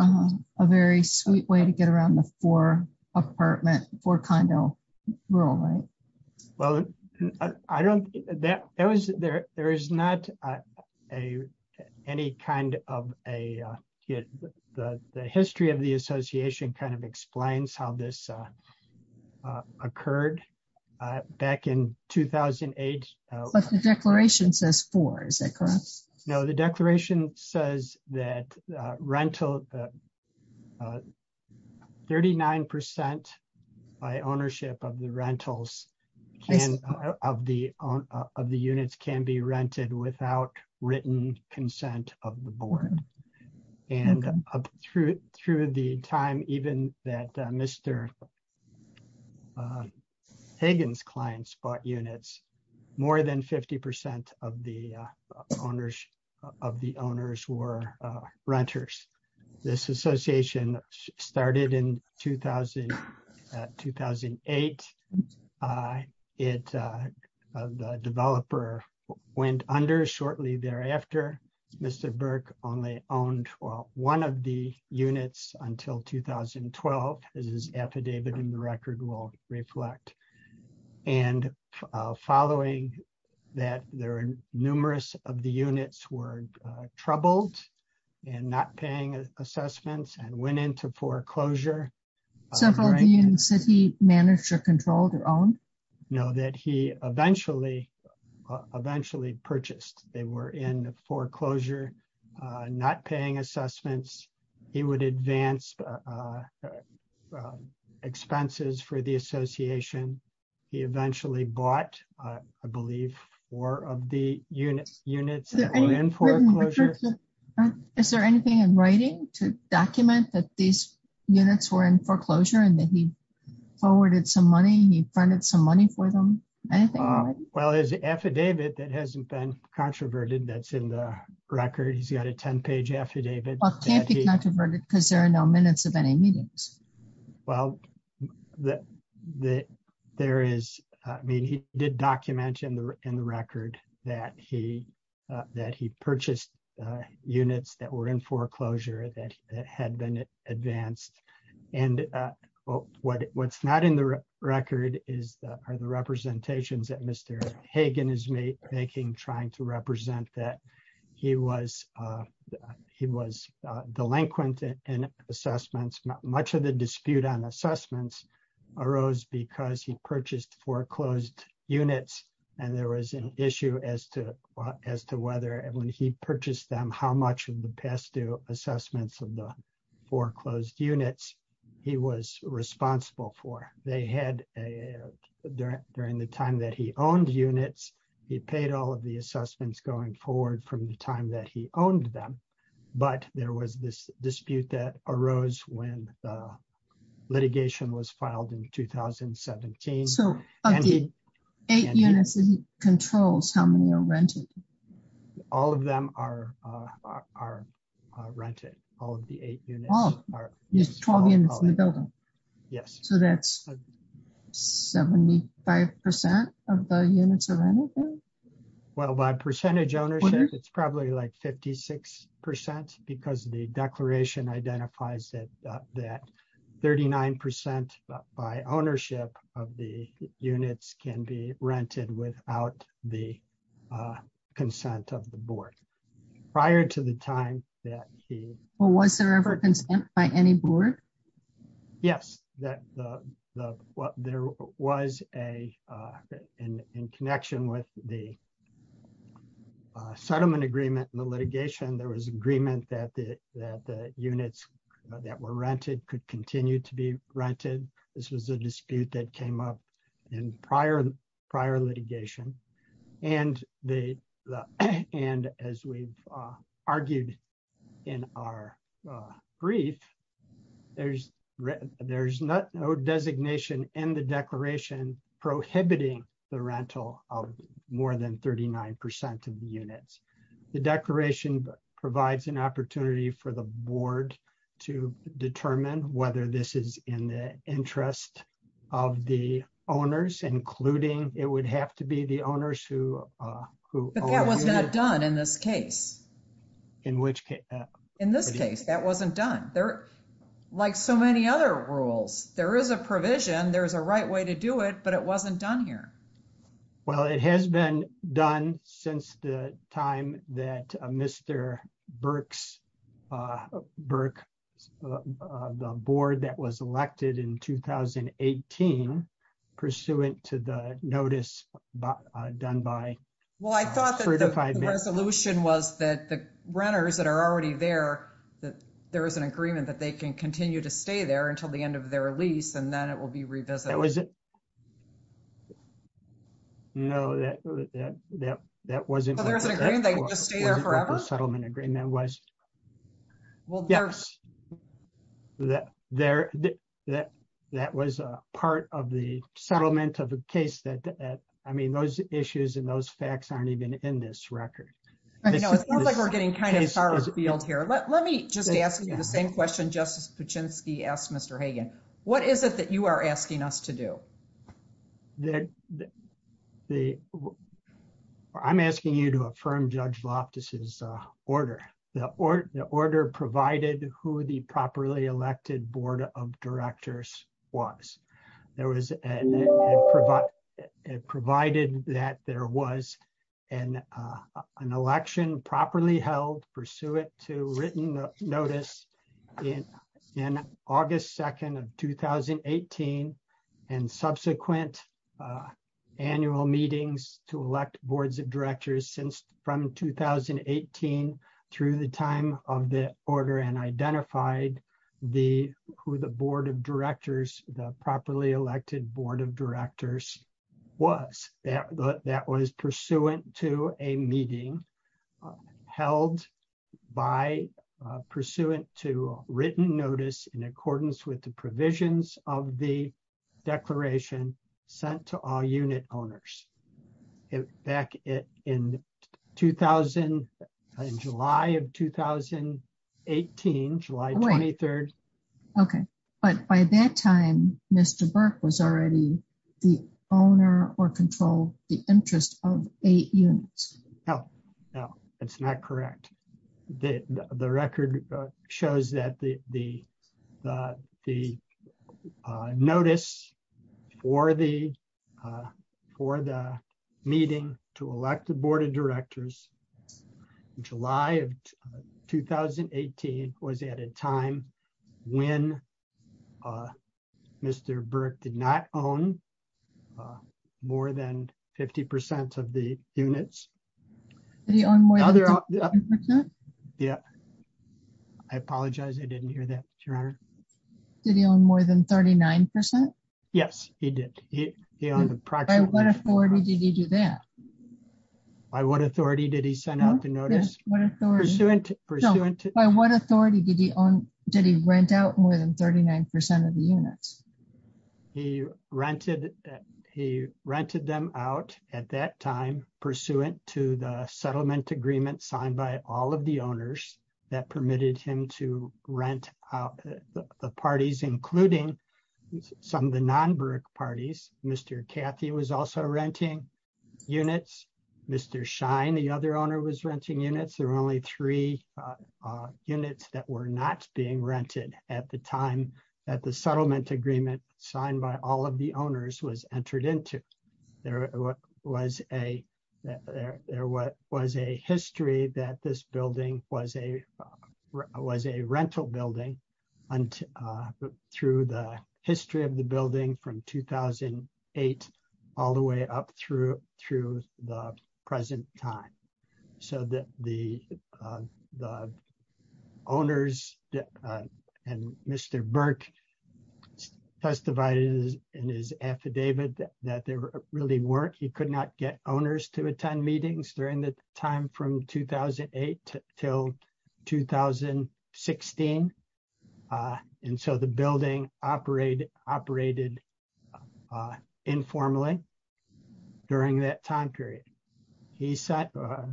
A very sweet way to get around the four apartment for kind of rural, right? Well, I don't, that was, there, there is not, uh, a, any kind of a, uh, the, the history of the association kind of explains how this, uh, uh, occurred, uh, back in 2008. But the declaration says four, is that correct? No, the declaration says that, uh, rental, uh, uh, 39% by ownership of the rentals of the, uh, of the units can be rented without written consent of the board and up through, through the time, even that, uh, Mr. Uh, Hagan's clients bought units more than 50% of the, uh, owners of the owners were, uh, renters. This association started in 2000, uh, 2008. Uh, it, uh, uh, the developer went under shortly thereafter. Mr. Burke only owned one of the units until 2012. This is affidavit and the record will reflect and, uh, following that there are numerous of the units were, uh, troubled and not paying assessments and went into foreclosure. So for the city manager controlled or own? No, that he eventually, uh, eventually purchased. They were in foreclosure, uh, not paying assessments. He would advance, uh, uh, uh, uh, expenses for the association. He eventually bought, uh, I believe four of the units units. Is there anything in writing to document that these units were in foreclosure and that he funded some money for them? Well, there's an affidavit that hasn't been controverted. That's in the record. He's got a 10 page affidavit because there are no minutes of any meetings. Well, the, the, there is, uh, I mean, he did document in the, in the record that he, uh, that he purchased, uh, units that were in foreclosure that had been advanced. And, uh, what, what's not in the record is that are the representations that Mr. Hagan is making, trying to represent that he was, uh, he was, uh, delinquent and assessments. Much of the dispute on assessments arose because he purchased foreclosed units. And there was an issue as to, as to whether, and when he purchased them, how much of the assessments of the foreclosed units he was responsible for. They had a, during the time that he owned units, he paid all of the assessments going forward from the time that he owned them. But there was this dispute that arose when the litigation was filed in 2017. So of the eight units that he controls, how many are rented? All of them are, uh, are, uh, rented. All of the eight units are 12 units in the building. Yes. So that's 75% of the units are rented? Well, by percentage ownership, it's probably like 56% because the declaration identifies that, that 39% by ownership of the units can be rented without the, uh, consent of the board. Prior to the time that he... Well, was there ever consent by any board? Yes. That the, the, what there was a, uh, in, in connection with the, uh, settlement agreement and the litigation, there was agreement that the, that the units that were rented could continue to be rented. This was a dispute that came up in prior, prior litigation. And they, the, and as we've, uh, argued in our, uh, brief, there's no designation in the declaration prohibiting the rental of more than 39% of the units. The declaration provides an opportunity for the board to determine whether this is in the interest of the owners, including it would have to be the owners who, uh, who... But that was not done in this case. In which case? In this case, that wasn't done. There, like so many other rules, there is a provision, there's a right way to do it, but it wasn't done here. Well, it has been done since the time that Mr. Burke's, uh, Burke, uh, the board that was elected in 2018 pursuant to the notice, uh, done by... Well, I thought that the resolution was that the renters that are already there, that there was an agreement that they can continue to stay there until the end of their lease, and then it will be revisited. No, that, that, that, that wasn't... So there's an agreement they can just stay there forever? The settlement agreement was... Well, there... Yes, that, there, that, that was a part of the settlement of a case that, that, I mean, those issues and those facts aren't even in this record. You know, it sounds like we're getting kind of far afield here. Let me just ask you the same question Justice Puchinsky asked Mr. Hagan. What is it that you are asking us to do? The, the, the, I'm asking you to affirm Judge Voptis's, uh, order. The order, the order provided who the properly elected board of directors was. There was, and it provided, it provided that there was an, uh, an election properly held pursuant to written notice in, in August 2nd of 2018 and subsequent, uh, annual meetings to elect boards of directors since from 2018 through the time of the order and identified the, who the board of directors, the properly elected board of directors was. That was pursuant to a meeting held by, uh, pursuant to written notice in accordance with the provisions of the declaration sent to all unit owners. Back in 2000, in July of 2018, July 23rd. Okay. But by that time, Mr. Burke was already the owner or control the interest of eight units. No, no, that's not correct. The record shows that the, the, uh, the, uh, notice for the, uh, for the meeting to elect the board of directors in July of 2018 was at a time when, uh, Mr. Burke did not own, uh, more than 50% of the units. Yeah. I apologize. I didn't hear that. Your honor. Did he own more than 39%? Yes, he did. He, he owned the project. By what authority did he do that? By what authority did he send out the notice? By what authority did he own? Did he rent out more than 39% of the units? He rented, he rented them out at that time pursuant to the settlement agreement signed by all of the owners that permitted him to rent out the parties, including some of the the other owner was renting units. There were only three, uh, uh, units that were not being rented at the time that the settlement agreement signed by all of the owners was entered into. There was a, there was a history that this building was a, uh, was a rental building until, uh, through the history of the building from 2008 all the way up through, through the present time so that the, uh, the owners and Mr. Burke testified in his affidavit that there really weren't, he could not get owners to attend meetings during the time from 2008 till 2016, uh, and so the building operated, operated, uh, informally during that time period. He said, uh,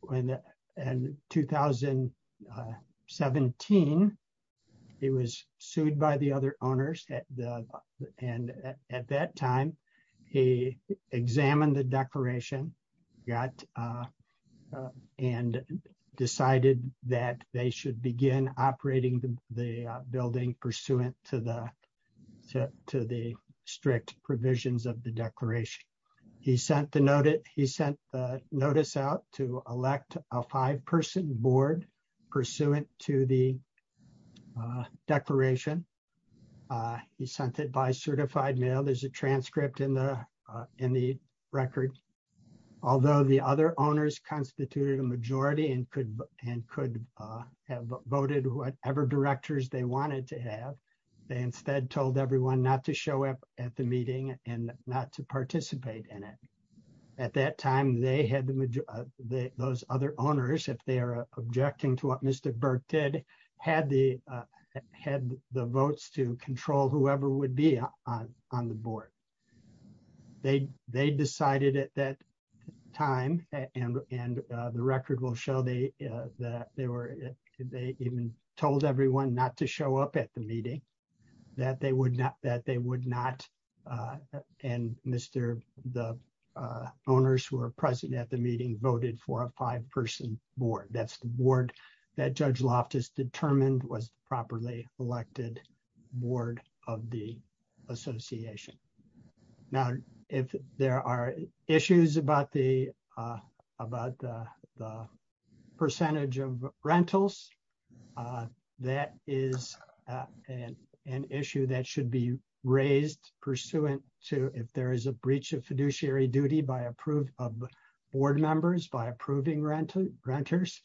when, uh, in 2017, he was sued by the other owners at the, and at that time he examined the declaration, got, uh, and decided that they should begin operating the building pursuant to the, to the strict provisions of the declaration. He sent the notice, he sent the notice out to elect a five-person board pursuant to the declaration. Uh, he sent it by certified mail. There's a transcript in the, uh, in the record. Although the other owners constituted a majority and could, and could, uh, have voted whatever directors they wanted to have, they instead told everyone not to show up at the meeting and not to participate in it. At that time, they had the, those other owners, if they are objecting to what Mr. Burke did, had the, uh, had the votes to control whoever would be on, on the board. They, they decided at that time, and, and, uh, the record will show they, uh, that they were, they even told everyone not to show up at the meeting, that they would not, that they would not, uh, and Mr., the, uh, owners who were present at the meeting voted for a five-person board. That's the board that Judge Loftus determined was properly elected board of the association. Now, if there are issues about the, uh, about the, the percentage of rentals, uh, that is, uh, an, an issue that should be raised pursuant to if there is a breach of fiduciary duty by approved board members, by approving rental renters,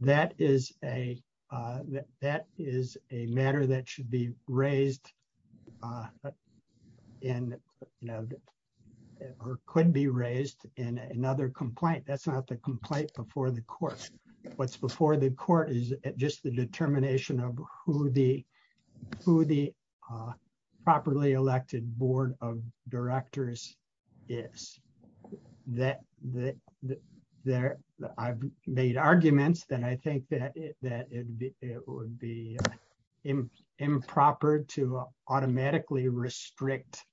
that is a, uh, that is a matter that should be raised, uh, in, you know, or could be raised in another complaint. That's not the complaint before the court. What's before the court is just the determination of who the, who the, uh, properly elected board of directors is. That, that, there, I've made arguments that I think that it, that it would be improper to automatically restrict,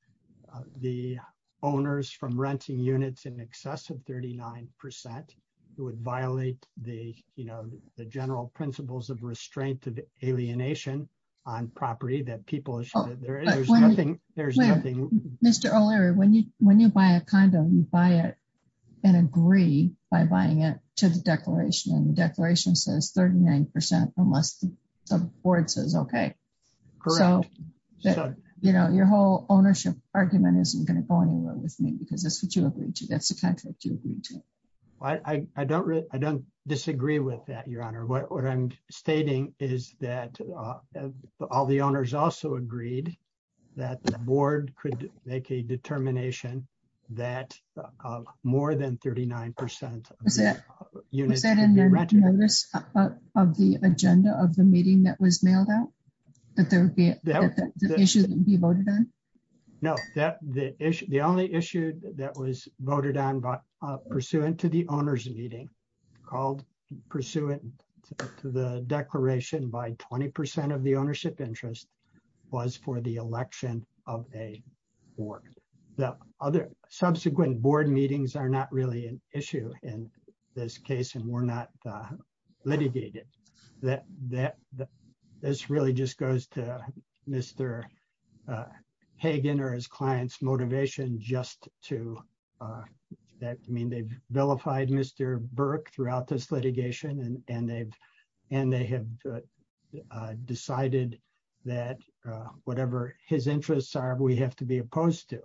uh, the owners from renting units in excess of 39 percent. It would violate the, you know, the general principles of restraint of alienation on property that people should, there's nothing, there's nothing. Mr. O'Leary, when you, when you buy a condom, you buy it and agree by buying it to the declaration and the declaration says 39 percent, unless the board says, okay, so, you know, your whole ownership argument isn't going to go anywhere with me because that's what you agreed to. That's the contract you agreed to. I don't really, I don't disagree with that. Your honor. What I'm stating is that all the owners also agreed that the board could make a determination that more than 39 percent. Was that in the notice of the agenda of the meeting that was mailed out? That there would be the issue that would be voted on? No, that the issue, the only issue that was voted on by, uh, pursuant to the owner's meeting called, pursuant to the declaration by 20 percent of the ownership interest was for the election of a board. The other subsequent board meetings are not really an issue in this case and were not litigated. That, that, this really just goes to Mr. Hagen or his client's motivation just to, that, I mean, they've vilified Mr. Burke throughout this litigation and, and they've, and they have, uh, uh, decided that, uh, whatever his interests are, we have to be opposed to.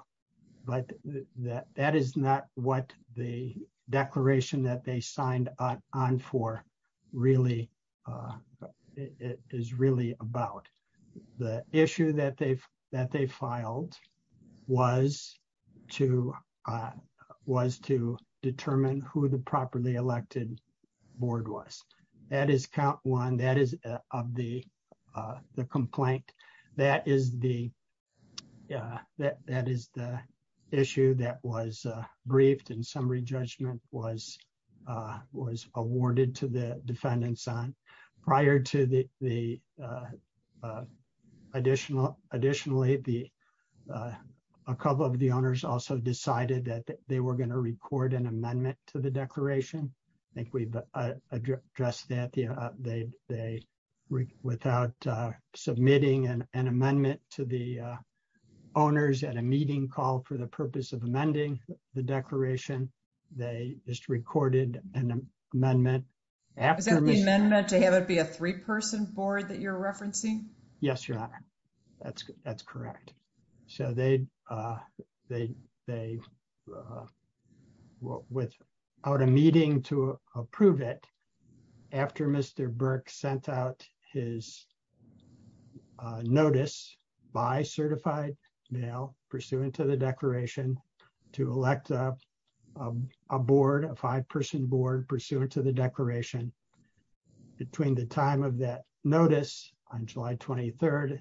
But that, that is not what the declaration that they signed on for really, uh, is really about. The issue that they've, that they filed was to, uh, was to determine who the properly elected board was. That is count one, that is of the, uh, the complaint. That is the, uh, that, that is the issue that was, uh, briefed and summary judgment was, uh, was awarded to the defendants on prior to the, the, uh, uh, additional, additionally, the, uh, a couple of the owners also decided that they were going to record an amendment to the declaration. I think we've, uh, addressed that, uh, they, they, without, uh, submitting an, an amendment to the, uh, owners at a meeting call for the purpose of amending the declaration, they just recorded an amendment. Is that the amendment to have it be a three-person board that you're referencing? Yes, your honor. That's, that's correct. So they, uh, they, they, uh, without a meeting to approve it after Mr. Burke sent out his uh, uh, uh, notice by certified male pursuant to the declaration to elect a, uh, a board, a five-person board pursuant to the declaration between the time of that notice on July 23rd.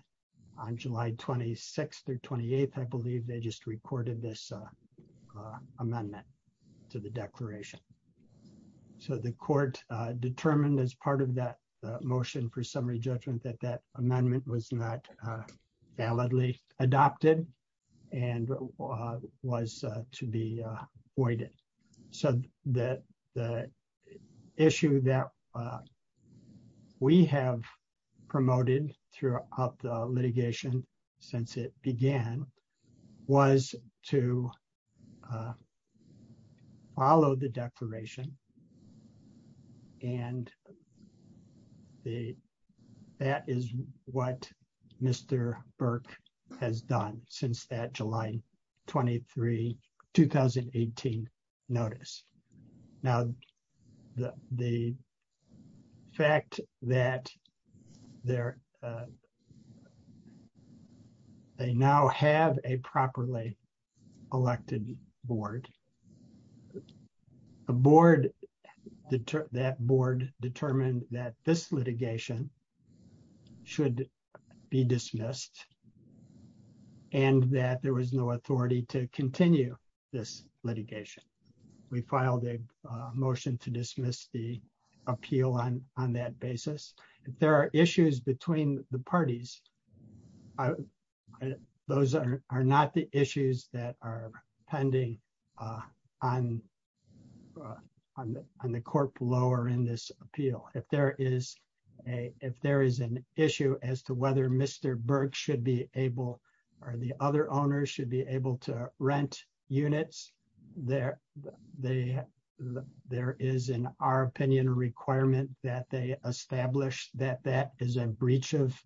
On July 26th, the 28th, I believe they just recorded this, uh, uh, amendment to the declaration. So the court, uh, determined as part of that, uh, motion for summary judgment that that amendment was not, uh, validly adopted and, uh, was, uh, to be, uh, voided. So that the issue that, uh, we have promoted throughout the litigation since it began was to, uh, follow the declaration. And the, that is what Mr. Burke has done since that July 23, 2018 notice. Now, the, the fact that they're, uh, they now have a properly elected board, the board, that board determined that this litigation should be dismissed and that there was no authority to continue this litigation. We filed a, uh, motion to dismiss the appeal on, on that basis. If there are issues between the parties, I, those are, are not the issues that are pending, uh, on, uh, on the, on the court below or in this appeal. If there is a, if there is an issue as to whether Mr. Burke should be able or the other owners should be able to rent units there, they, there is in our opinion, a requirement that they establish that, that is a breach of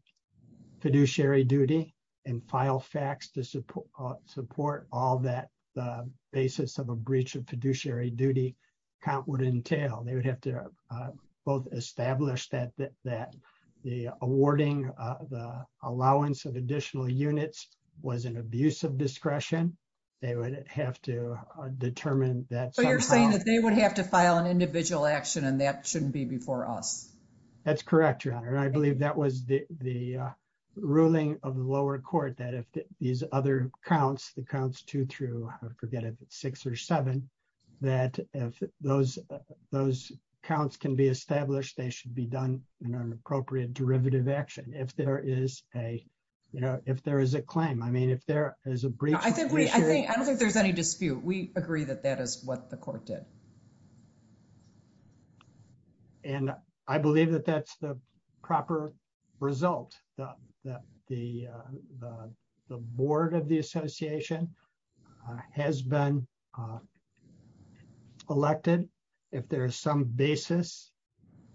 fiduciary duty and file facts to support, uh, support all that, uh, basis of a breach of fiduciary duty count would entail. They would have to, uh, both establish that, that, that the awarding, uh, the allowance of additional units was an abuse of discretion. They would have to determine that. So you're saying that they would have to file an individual action and that shouldn't be before us. That's correct, Your Honor. I believe that was the, the, uh, ruling of the lower court that if these other counts, the counts two through, forget it, six or seven, that if those, those counts can be established, they should be done in an appropriate derivative action. If there is a, you know, if there is a claim, I mean, if there is a breach of fiduciary. I don't think there's any dispute. We agree that that is what the court did. And I believe that that's the proper result that the, uh, the, the board of the association, uh, has been, uh, elected. If there is some basis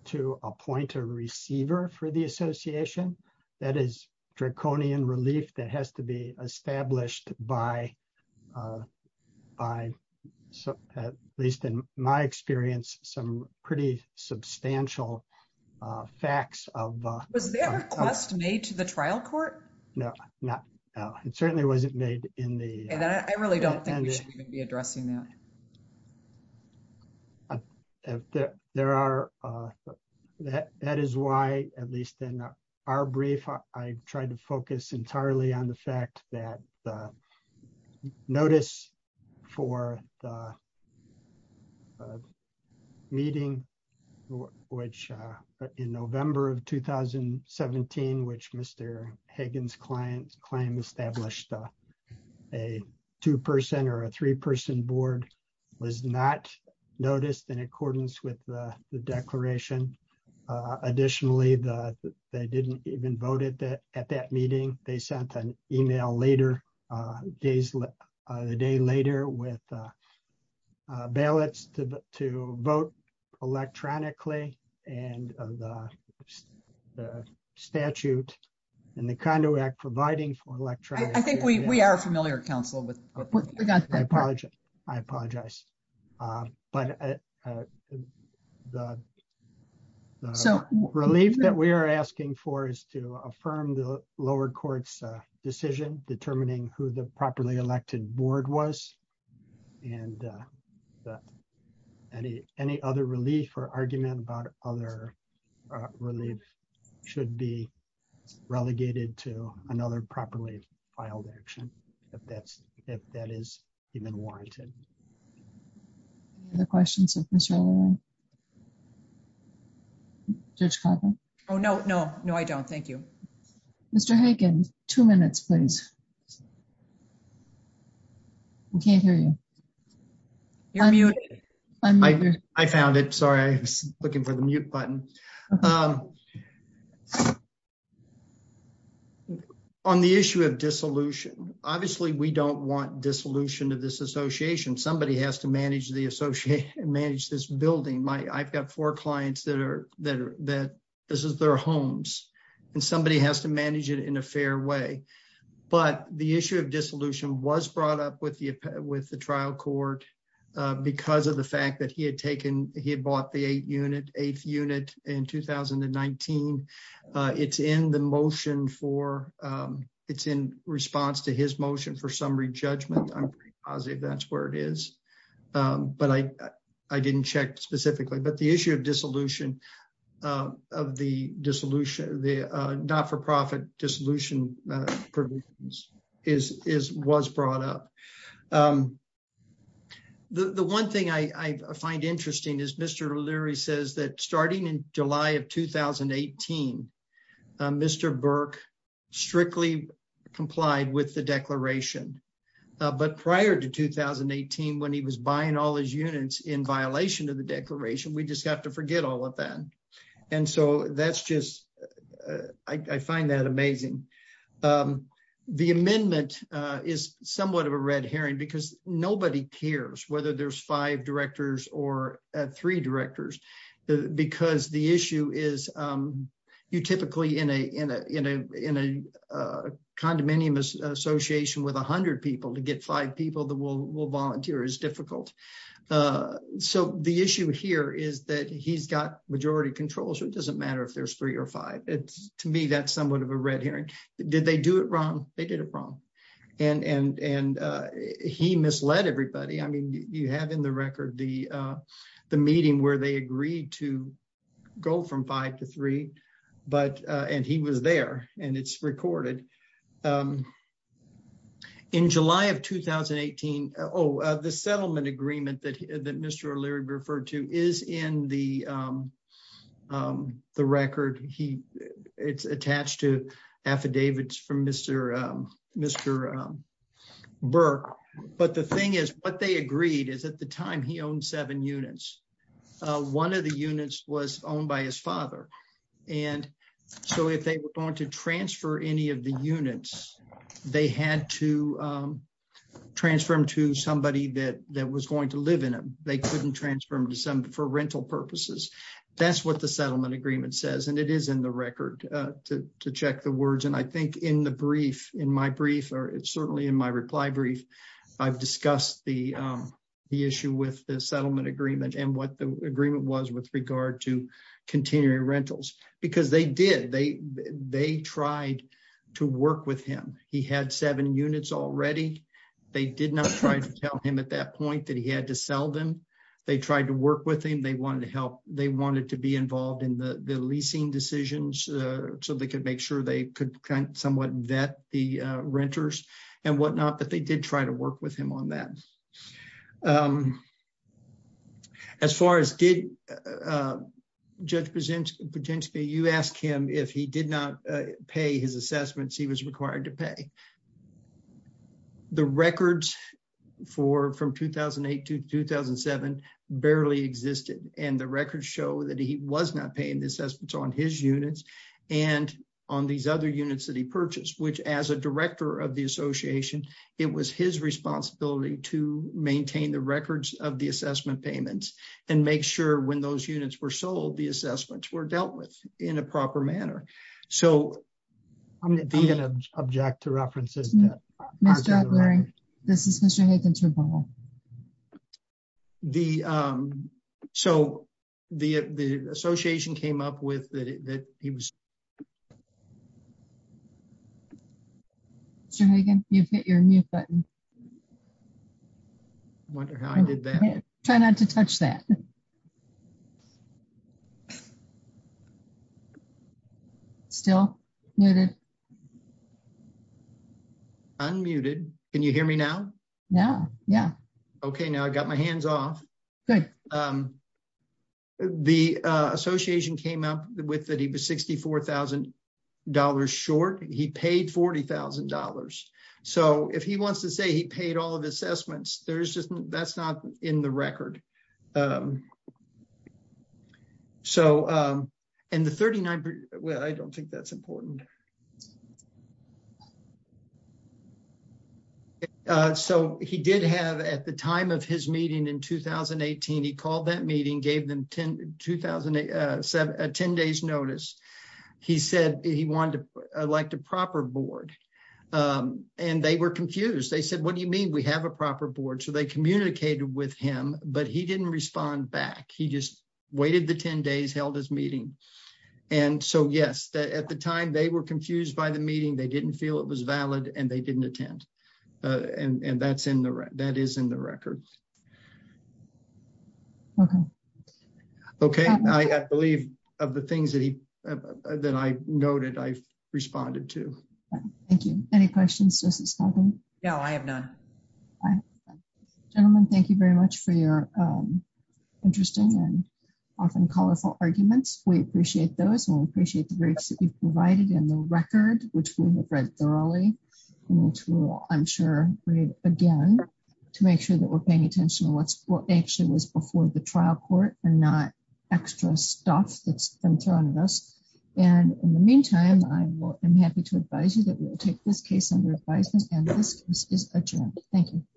to appoint a receiver for the association, that is draconian relief that has to be established by, uh, by at least in my experience, some pretty substantial, uh, facts of, uh. Was there a request made to the trial court? No, not, no, it certainly wasn't made in the. I really don't think we should even be addressing that. There are, uh, that, that is why, at least in our brief, I tried to focus entirely on the claim established, uh, a 2% or a three person board was not noticed in accordance with the declaration. Uh, additionally, the, they didn't even vote at that, at that meeting, they sent an email later, uh, days, uh, the day later with, uh, uh, ballots to vote electronically and, uh, the statute and the condo act providing for electronic. I think we, we are familiar counsel with, I apologize. Uh, but, uh, uh, the, the relief that we are asking for is to affirm the lower courts, uh, decision determining who the properly elected board was. And, uh, but any, any other relief or argument about other, uh, relief should be relegated to another properly filed action. If that's, if that is even warranted. Any other questions of Mr. O'Loughlin? Judge Carbone? Oh, no, no, no, I don't. Thank you. Mr. Hagen, two minutes, please. I can't hear you. You're muted. I found it. Sorry. I was looking for the mute button. Um, on the issue of dissolution, obviously we don't want dissolution of this association. Somebody has to manage the associate and manage this building. My, I've got four clients that are that this is their homes and somebody has to manage it in a fair way. But the issue of dissolution was brought up with the, with the trial court, uh, because of the fact that he had taken, he had bought the eight unit eighth unit in 2019. Uh, it's in the motion for, um, it's in response to his motion for summary judgment. I'm pretty positive that's where it is. Um, but I, I didn't check specifically, but the issue of dissolution, uh, of the dissolution, the, uh, not-for-profit dissolution, uh, provisions is, is, was brought up. Um, the, the one thing I, I find interesting is Mr. O'Leary says that starting in July of 2018, uh, Mr. Burke strictly complied with the declaration. Uh, but prior to 2018, when he was buying all his units in violation of the declaration, we just have to forget all of that. And so that's just, uh, I, I find that amazing. Um, the amendment, uh, is somewhat of a red herring because nobody cares whether there's five directors or three directors because the issue is, um, you typically in a, in a, in a, in a, uh, condominium association with a hundred people to get five people that will, will volunteer is difficult. Uh, so the issue here is that he's got majority control. So it doesn't matter if there's three or five. It's to me, that's somewhat of a red herring. Did they do it wrong? They did it wrong. And, and, and, uh, he misled everybody. I mean, you have in the record, the, uh, the meeting where they agreed to go from five to three, but, uh, and he was there and it's recorded, um, in July of 2018, oh, uh, the settlement agreement that, that Mr. O'Leary referred to is in the, um, um, the record. It's attached to affidavits from Mr., um, Mr. Burke. But the thing is what they agreed is at the time he owned seven units. Uh, one of the units was owned by his father. And so if they were going to transfer any of the units, they had to, um, transfer them to somebody that, that was going to live in them. They couldn't transfer them to some for rental purposes. That's what the settlement agreement says. And it is in the record, uh, to, to check the words. And I think in the brief, in my brief, or certainly in my reply brief, I've discussed the, um, the issue with the settlement agreement and what the agreement was with regard to continuing rentals, because they did, they, they tried to work with him. He had seven units already. They did not try to tell him at that point that he had to sell them. They tried to work with him. They wanted to help. They wanted to be involved in the, the leasing decisions, uh, so they could make sure they could kind of somewhat vet the, uh, renters and whatnot, but they did try to work with him on that. Um, as far as did, uh, uh, judge present potentially, you asked him if he did not pay his that he was not paying the assessments on his units and on these other units that he purchased, which as a director of the association, it was his responsibility to maintain the records of the assessment payments and make sure when those units were sold, the assessments were dealt with in a proper manner. So I'm going to be an object to references. This is Mr. Hathens. Well, the, um, so the, uh, the association came up with that, that he was you've hit your mute button. I wonder how I did that. Try not to touch that still muted, unmuted. Can you hear me now? Yeah. Yeah. Okay. Now I got my hands off. Good. Um, the, uh, association came up with that. He was $64,000 short. He paid $40,000. So if he wants to say he paid all of the assessments, there's just, that's not in the record. Um, so, um, and the 39th, well, I don't think that's it. Uh, so he did have at the time of his meeting in 2018, he called that meeting, gave them 10, 2007, a 10 days notice. He said he wanted to elect a proper board. Um, and they were confused. They said, what do you mean we have a proper board? So they communicated with him, but he didn't respond back. He just waited the 10 days, held his meeting. And so yes, at the time they were confused by the meeting, they didn't feel it was valid and they didn't attend. Uh, and, and that's in the, that is in the record. Okay. Okay. I believe of the things that he, that I noted, I responded to. Thank you. Any questions? No, I have none. Gentlemen, thank you very much for your, um, interesting and often colorful arguments. We record, which we have read thoroughly. I'm sure again, to make sure that we're paying attention to what's actually was before the trial court and not extra stuff that's been thrown at us. And in the meantime, I'm happy to advise you that we will take this case under advisement. Thank you.